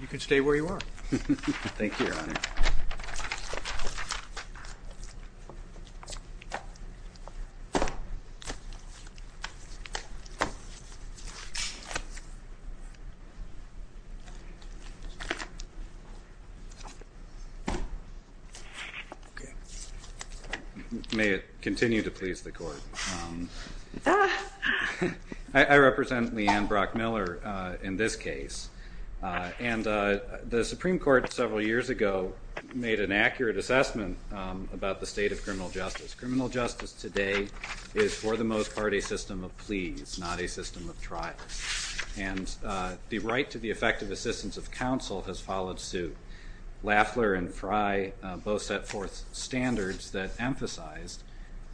You can stay where you are. Thank you, Your Honor. May it continue to please the court. I represent LeAnn Brock Miller in this case, and the Supreme Court several years ago made an accurate assessment about the state of criminal justice. Criminal justice today is for the most part a system of pleas, not a system of trials. And the right to the effective assistance of counsel has followed suit. Lafler and Fry both set forth standards that emphasized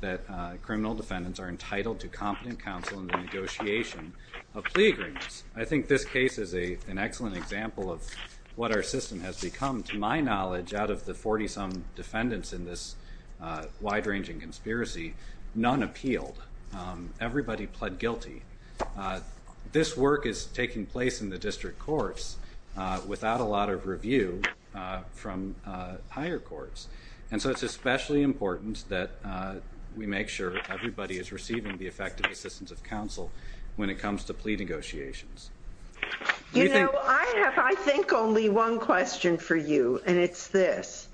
that criminal defendants are entitled to competent counsel in the negotiation of plea agreements. I think this case is an excellent example of what our system has become. To my knowledge, out of the 40-some defendants in this wide-ranging conspiracy, none appealed. Everybody pled guilty. This work is taking place in the district courts without a lot of review from higher courts. And so it's especially important that we make sure everybody is receiving the effective assistance of counsel when it comes to plea negotiations. You know, I have, I think, only one question for you, and it's this.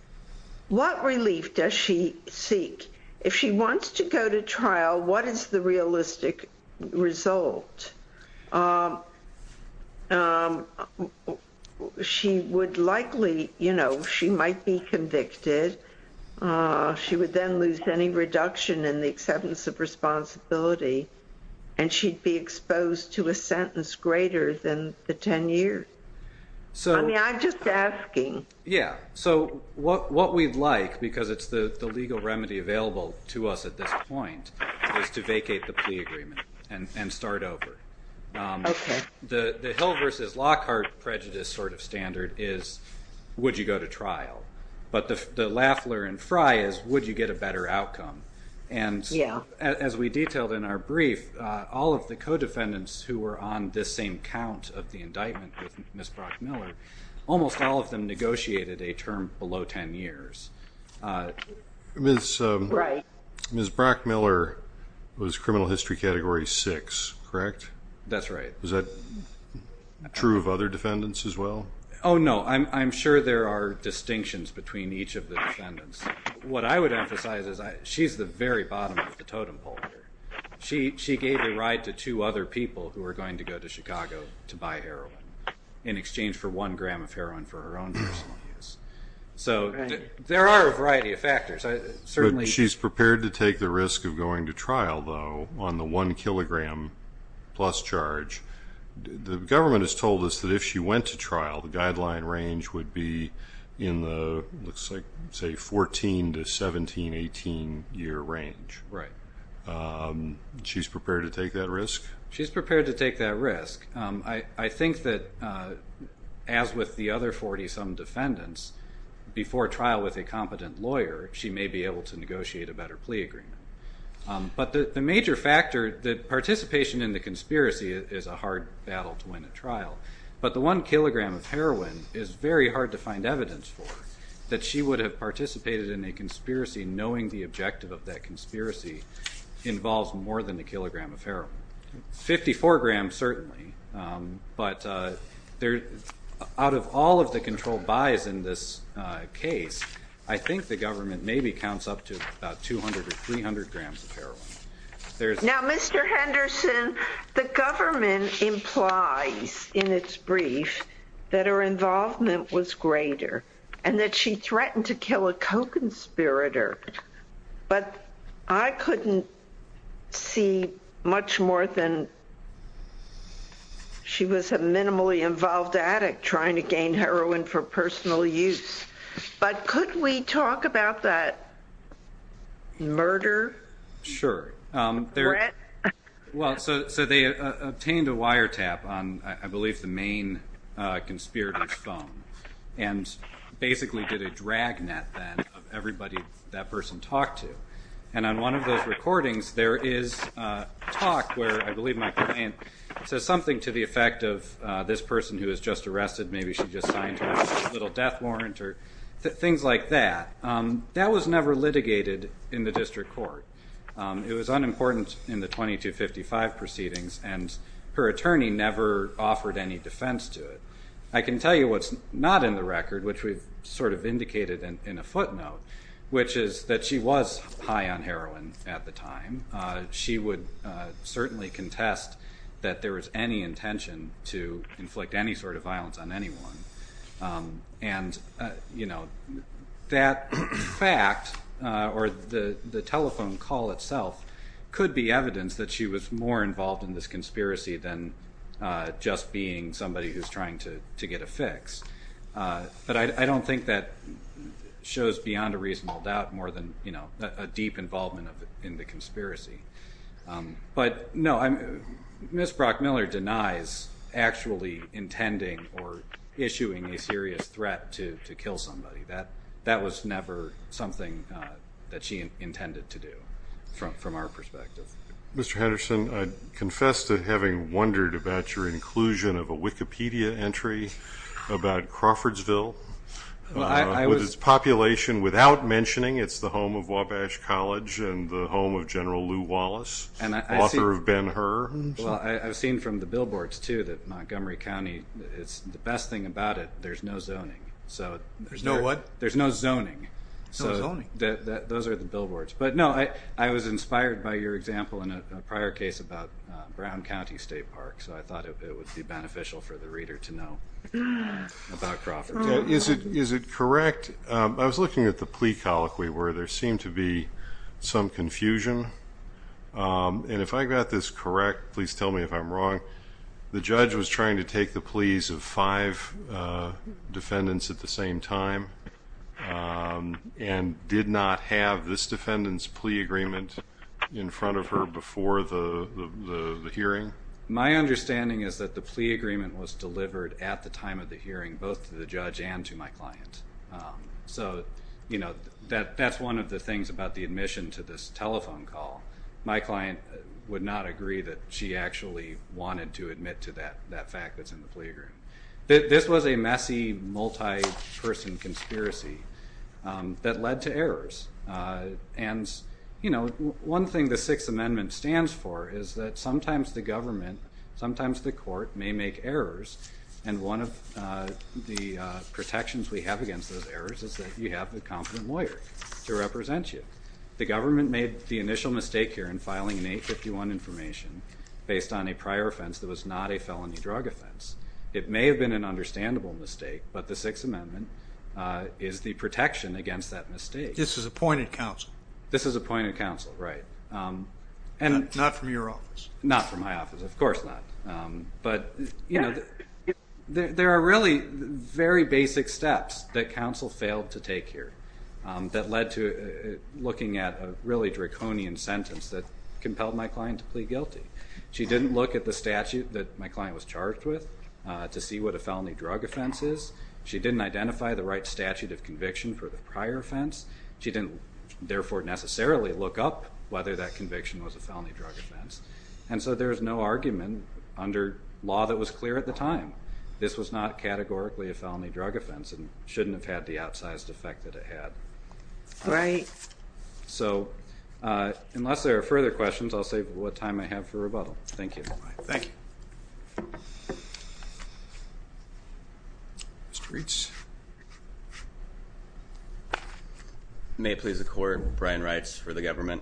What relief does she seek? If she wants to go to trial, what is the realistic result? She would likely, you know, she might be convicted. She would then lose any reduction in the acceptance of responsibility, and she'd be exposed to a sentence greater than the 10 years. I mean, I'm just asking. Yeah. So what we'd like, because it's the legal remedy available to us at this point, is to vacate the plea agreement and start over. Okay. The Hill v. Lockhart prejudice sort of standard is, would you go to trial? But the Lafler and Frye is, would you get a better outcome? And as we detailed in our brief, all of the co-defendants who were on this same count of the indictment with Ms. Brockmiller, almost all of them negotiated a term below 10 years. Ms. Brockmiller was criminal history category 6, correct? That's right. Is that true of other defendants as well? Oh, no. I'm sure there are distinctions between each of the defendants. What I would emphasize is she's the very bottom of the totem pole here. She gave the right to two other people who were going to go to Chicago to buy heroin in exchange for one gram of heroin for her She's prepared to take the risk of going to trial, though, on the one kilogram plus charge. The government has told us that if she went to trial, the guideline range would be in the, looks like, say, 14 to 17, 18 year range. Right. She's prepared to take that risk? She's prepared to take that risk. I think that, as with the other 40-some defendants, before trial with a competent lawyer, she may be able to negotiate a better plea agreement. But the major factor, the participation in the conspiracy is a hard battle to win at trial. But the one kilogram of heroin is very hard to find evidence for that she would have participated in a conspiracy knowing the objective of that conspiracy involves more than a kilogram of heroin. Fifty-four grams, certainly. But out of all of the controlled buys in this case, I think the government maybe counts up to about 200 or 300 grams of heroin. Now, Mr. Henderson, the government implies in its brief that her involvement was greater and that she threatened to kill a co-conspirator. But I couldn't see much more than she was a minimally involved addict trying to gain heroin for personal use. But could we talk about that murder? Sure. Well, so they obtained a wiretap on, I believe, the main conspirator's phone. And basically did a dragnet then of everybody that person talked to. And on one of those recordings, there is talk where, I believe, my client says something to the effect of, this person who was just arrested, maybe she just signed a little death warrant or things like that. That was never litigated in the district court. It was unimportant in the 2255 proceedings. And her attorney never offered any defense to it. I can tell you what's not in the record, which we've sort of indicated in a footnote, which is that she was high on heroin at the time. She would certainly contest that there was any intention to inflict any sort of violence on anyone. And that fact, or the telephone call itself, could be evidence that she was more involved in this conspiracy than just being somebody who's trying to get a fix. But I don't think that shows beyond a reasonable doubt more than a deep involvement in the conspiracy. But no, Ms. Brockmiller denies actually intending or issuing a serious threat to kill somebody. That was never something that she intended to do from our perspective. Mr. Henderson, I confess to having wondered about your inclusion of a Wikipedia entry about Crawfordsville with its population without mentioning it's the home of Wabash College and the home of General Lew Wallace, author of Ben-Hur. Well, I've seen from the billboards too that Montgomery County, the best thing about it, there's no zoning. There's no what? There's no zoning. No zoning. So those are the billboards. But no, I was inspired by your example in a prior case about Brown County State Park, so I thought it would be beneficial for the reader to know about Crawfordville. Is it correct, I was looking at the plea colloquy where there seemed to be some confusion, and if I got this correct, please tell me if I'm wrong, the judge was trying to take the pleas of five defendants at the same time and did not have this defendant's plea agreement in front of her before the hearing? My understanding is that the plea agreement was delivered at the time of the hearing both to the judge and to my client. So that's one of the things about the admission to this telephone call. My client would not agree that she actually wanted to admit to that fact that's in the plea agreement. This was a messy, multi-person conspiracy that led to errors, and one thing the Sixth Amendment stands for is that sometimes the government, sometimes the court may make errors, and one of the protections we have against those errors is that you have a competent lawyer to represent you. The government made the initial mistake here in filing an 851 information based on a prior offense that was not a felony drug offense. It may have been an understandable mistake, but the Sixth Amendment is the protection against that mistake. This is appointed counsel. This is appointed counsel, right. Not from your office. Not from my office, of course not. But there are really very basic steps that counsel failed to take here that led to looking at a really draconian sentence that compelled my client to plead guilty. She didn't look at the statute that my client was charged with to see what a felony drug offense is. She didn't identify the right statute of conviction for the prior offense. She didn't therefore necessarily look up whether that conviction was a felony drug offense. And so there's no argument under law that was clear at the time. This was not categorically a felony drug offense and shouldn't have had the outsized effect that it had. Right. So, unless there are further questions, I'll save what time I have for rebuttal. Thank you. Thank you. Mr. Reitz. May it please the Court, Brian Reitz for the government.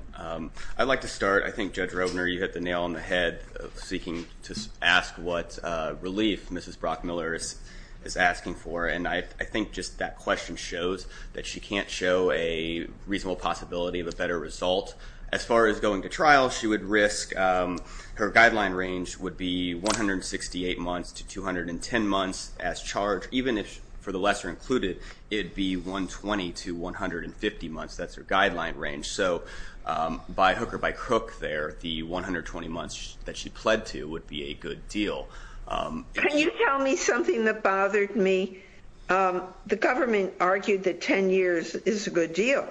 I'd like to start. I think Judge Rovner, you hit the nail on the head seeking to ask what relief Mrs. Brockmiller is asking for. And I think just that question shows that she can't show a reasonable possibility of a better result. As far as going to trial, she would risk, her guideline range would be 168 months to 210 months as charged. Even if, for the lesser included, it'd be 120 to 150 months. That's her guideline range. So, by hook or by crook there, the 120 months that she pled to would be a good deal. Can you tell me something that bothered me? The government argued that 10 years is a good deal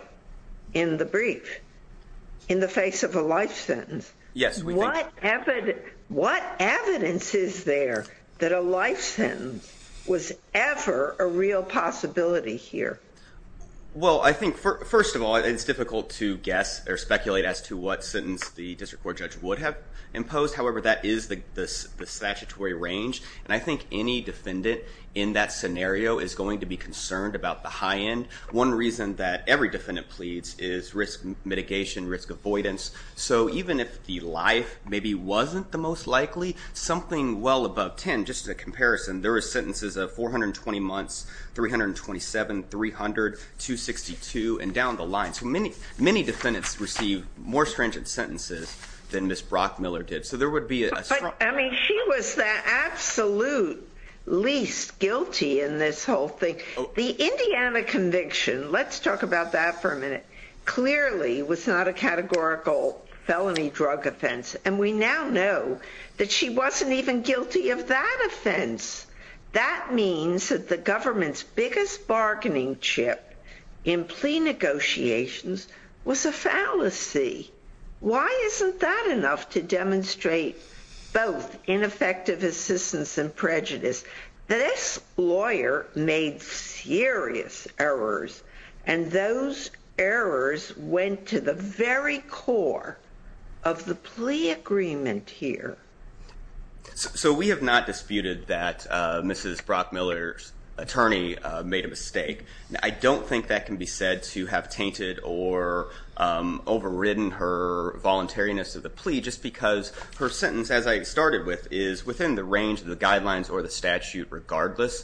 in the brief, in the face of a life sentence. Yes, we think so. What evidence is there that a life sentence was ever a real possibility here? Well, I think, first of all, it's difficult to guess or speculate as to what sentence the district court judge would have imposed. However, that is the statutory range. And I think any defendant in that scenario is going to be concerned about the high end. One reason that every defendant pleads is risk mitigation, risk avoidance. So even if the life maybe wasn't the most likely, something well above 10, just a comparison, there are sentences of 420 months, 327, 300, 262, and down the line. So many defendants receive more stringent sentences than Ms. Brockmiller did. But, I mean, she was the absolute least guilty in this whole thing. The Indiana conviction, let's talk about that for a minute, clearly was not a categorical felony drug offense. And we now know that she wasn't even guilty of that offense. That means that the government's biggest bargaining chip in plea negotiations was a fallacy. Why isn't that enough to demonstrate both ineffective assistance and prejudice? This lawyer made serious errors. And those errors went to the very core of the plea agreement here. So we have not disputed that Mrs. Brockmiller's attorney made a mistake. I don't think that can be said to have tainted or overridden her voluntariness of the plea just because her sentence, as I started with, is within the range of the guidelines or the statute, regardless.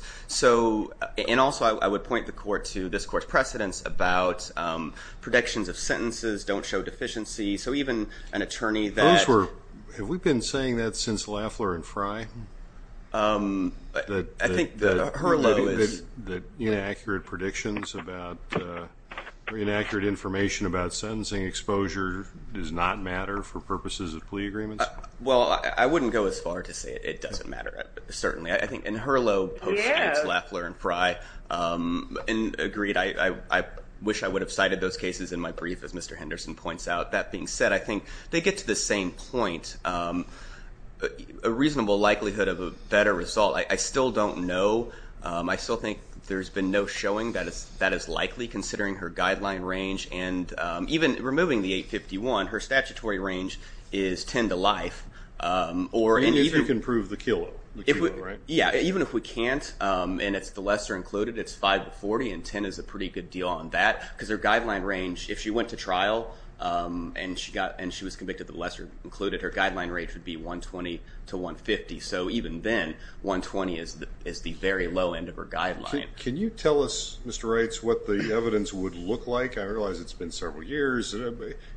And also, I would point the court to this court's precedence about predictions of sentences don't show deficiency. So even an attorney that... Those were, have we been saying that since Lafler and Frye? I think that Herlow is... That inaccurate predictions about, or inaccurate information about sentencing exposure does not matter for purposes of plea agreements? Well, I wouldn't go as far to say it doesn't matter, certainly. I think, and Herlow post-judge Lafler and Frye agreed, I wish I would have cited those cases in my brief, as Mr. Henderson points out. That being said, I think they get to the same point. A reasonable likelihood of a better result, I still don't know. I still think there's been no showing that is likely, considering her guideline range. And even removing the 851, her statutory range is 10 to life. And if you can prove the kilo, right? Yeah, even if we can't, and it's the lesser included, it's 5 to 40, and 10 is a pretty good deal on that. Because her guideline range, if she went to trial, and she was convicted of the lesser included, her guideline range would be 120 to 150. So even then, 120 is the very low end of her guideline. Can you tell us, Mr. Reitz, what the evidence would look like? I realize it's been several years.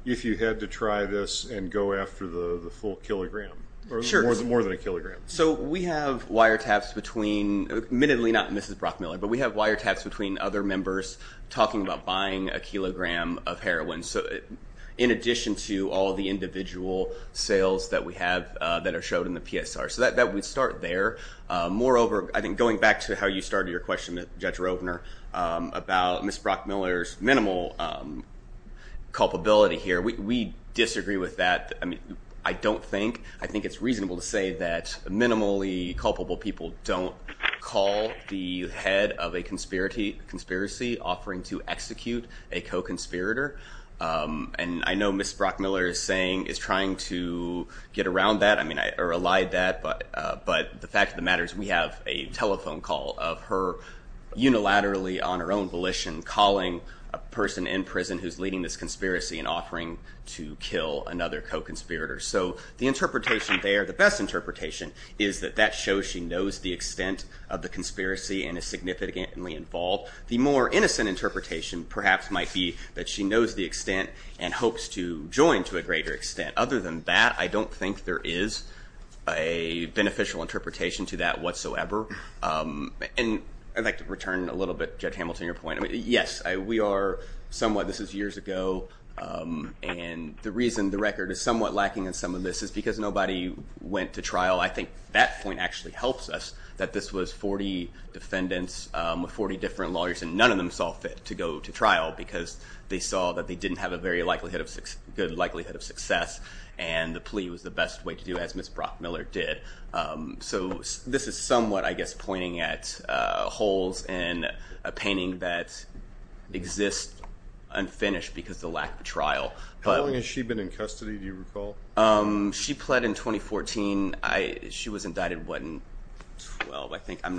If you had to try this and go after the full kilogram, or more than a kilogram. So we have wiretaps between, admittedly not Mrs. Brockmiller, but we have wiretaps between other members talking about buying a kilogram of heroin. So in addition to all the individual sales that we have that are showed in the PSR. So that would start there. Moreover, I think going back to how you started your question, Judge Rovner, about Ms. Brockmiller's minimal culpability here. We disagree with that. I don't think. I think it's reasonable to say that minimally culpable people don't call the head of a conspiracy offering to execute a co-conspirator. And I know Ms. Brockmiller is saying, is trying to get around that, or allied that. But the fact of the matter is, we have a telephone call of her unilaterally on her own volition calling a person in prison who's leading this conspiracy and offering to kill another co-conspirator. So the interpretation there, the best interpretation, is that that shows she knows the extent of the conspiracy and is significantly involved. The more innocent interpretation, perhaps, might be that she knows the extent and hopes to join to a greater extent. Other than that, I don't think there is a beneficial interpretation to that whatsoever. And I'd like to return a little bit, Judge Hamilton, to your point. Yes, we are somewhat, this is years ago, and the reason the record is somewhat lacking in some of this is because nobody went to trial. I think that point actually helps us, that this was 40 defendants with 40 different lawyers, and none of them saw fit to go to trial because they saw that they didn't have a very good likelihood of success, and the plea was the best way to do it, as Ms. Brockmiller did. So this is somewhat, I guess, pointing at holes in a painting that exists unfinished because of the lack of trial. How long has she been in custody, do you recall? She pled in 2014. She was indicted, what, in 2012, I think. I'm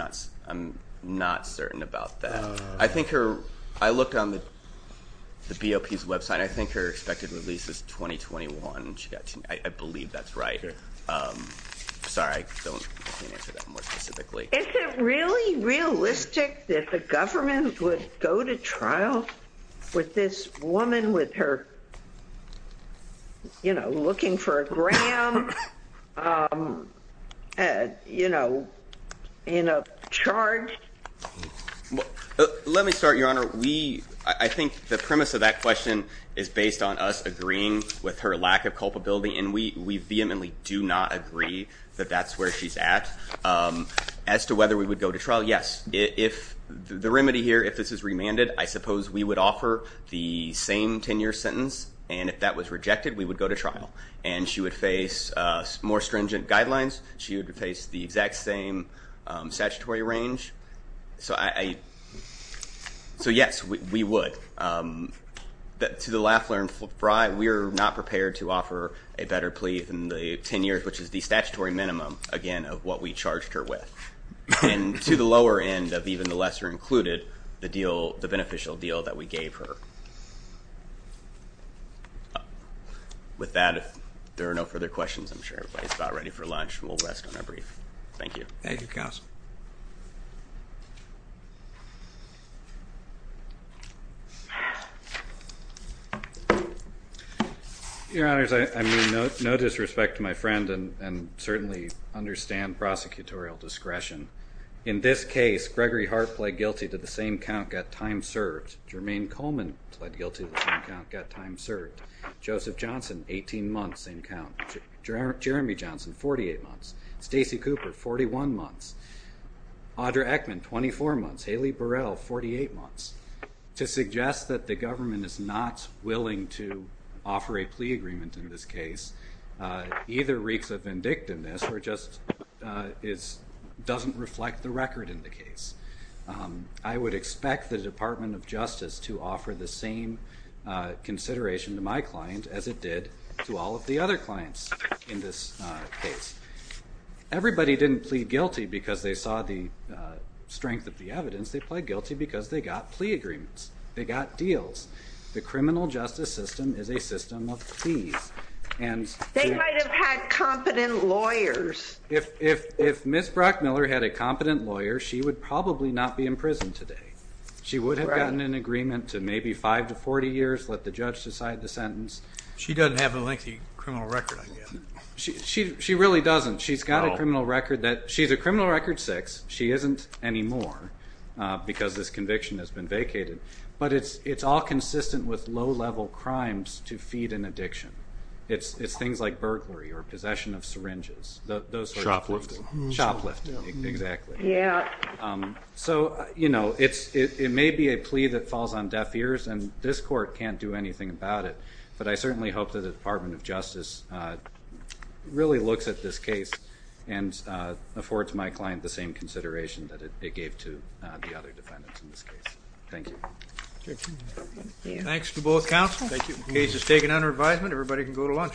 not certain about that. I think her, I looked on the BOP's website, I think her expected release is 2021. I believe that's right. Is it really realistic that the government would go to trial with this woman with her, you know, looking for a gram, you know, in a charge? Let me start, Your Honor. I think the premise of that question is based on us agreeing with her lack of culpability, and we vehemently do not agree that that's where she's at. As to whether we would go to trial, yes. If the remedy here, if this is remanded, I suppose we would offer the same 10-year sentence, and if that was rejected, we would go to trial. And she would face more stringent guidelines, she would face the exact same statutory range. So yes, we would. To the Laffler and Frye, we are not prepared to offer a better plea than the 10 years, which is the statutory minimum, again, of what we charged her with. And to the lower end of even the lesser included, the deal, the beneficial deal that we gave her. With that, if there are no further questions, I'm sure everybody's about ready for lunch, and we'll rest on our brief. Thank you. Thank you, Counsel. Your Honors, I mean no disrespect to my friend, and certainly understand prosecutorial discretion. In this case, Gregory Hart pled guilty to the same count, got time served. Jermaine Coleman pled guilty to the same count, got time served. Joseph Johnson, 18 months, same count. Jeremy Johnson, 48 months. Stacey Cooper, 41 months. Audra Eckman, 24 months. Haley Burrell, 48 months. To suggest that the government is not willing to offer a plea agreement in this case either reeks of vindictiveness or just doesn't reflect the record in the case. I would expect the Department of Justice to offer the same consideration to my client as it did to all of the other clients in this case. Everybody didn't plead guilty because they saw the strength of the evidence. They pled guilty because they got plea agreements. They got deals. The criminal justice system is a system of pleas. And- They might have had competent lawyers. If Ms. Brockmiller had a competent lawyer, she would probably not be in prison today. She would have gotten an agreement to maybe five to 40 years, let the judge decide the sentence. She doesn't have a lengthy criminal record, I guess. She really doesn't. She's got a criminal record that- She's a criminal record six. She isn't anymore because this conviction has been vacated. But it's all consistent with low-level crimes to feed an addiction. It's things like burglary or possession of syringes. Those sorts of things. Shoplifting. Shoplifting, exactly. Yeah. So, you know, it may be a plea that falls on deaf ears and this court can't do anything about it. But I certainly hope that the Department of Justice really looks at this case and affords my client the same consideration that it gave to the other defendants in this case. Thank you. Thanks to both counsel. Thank you. Case is taken under advisement. Everybody can go to lunch.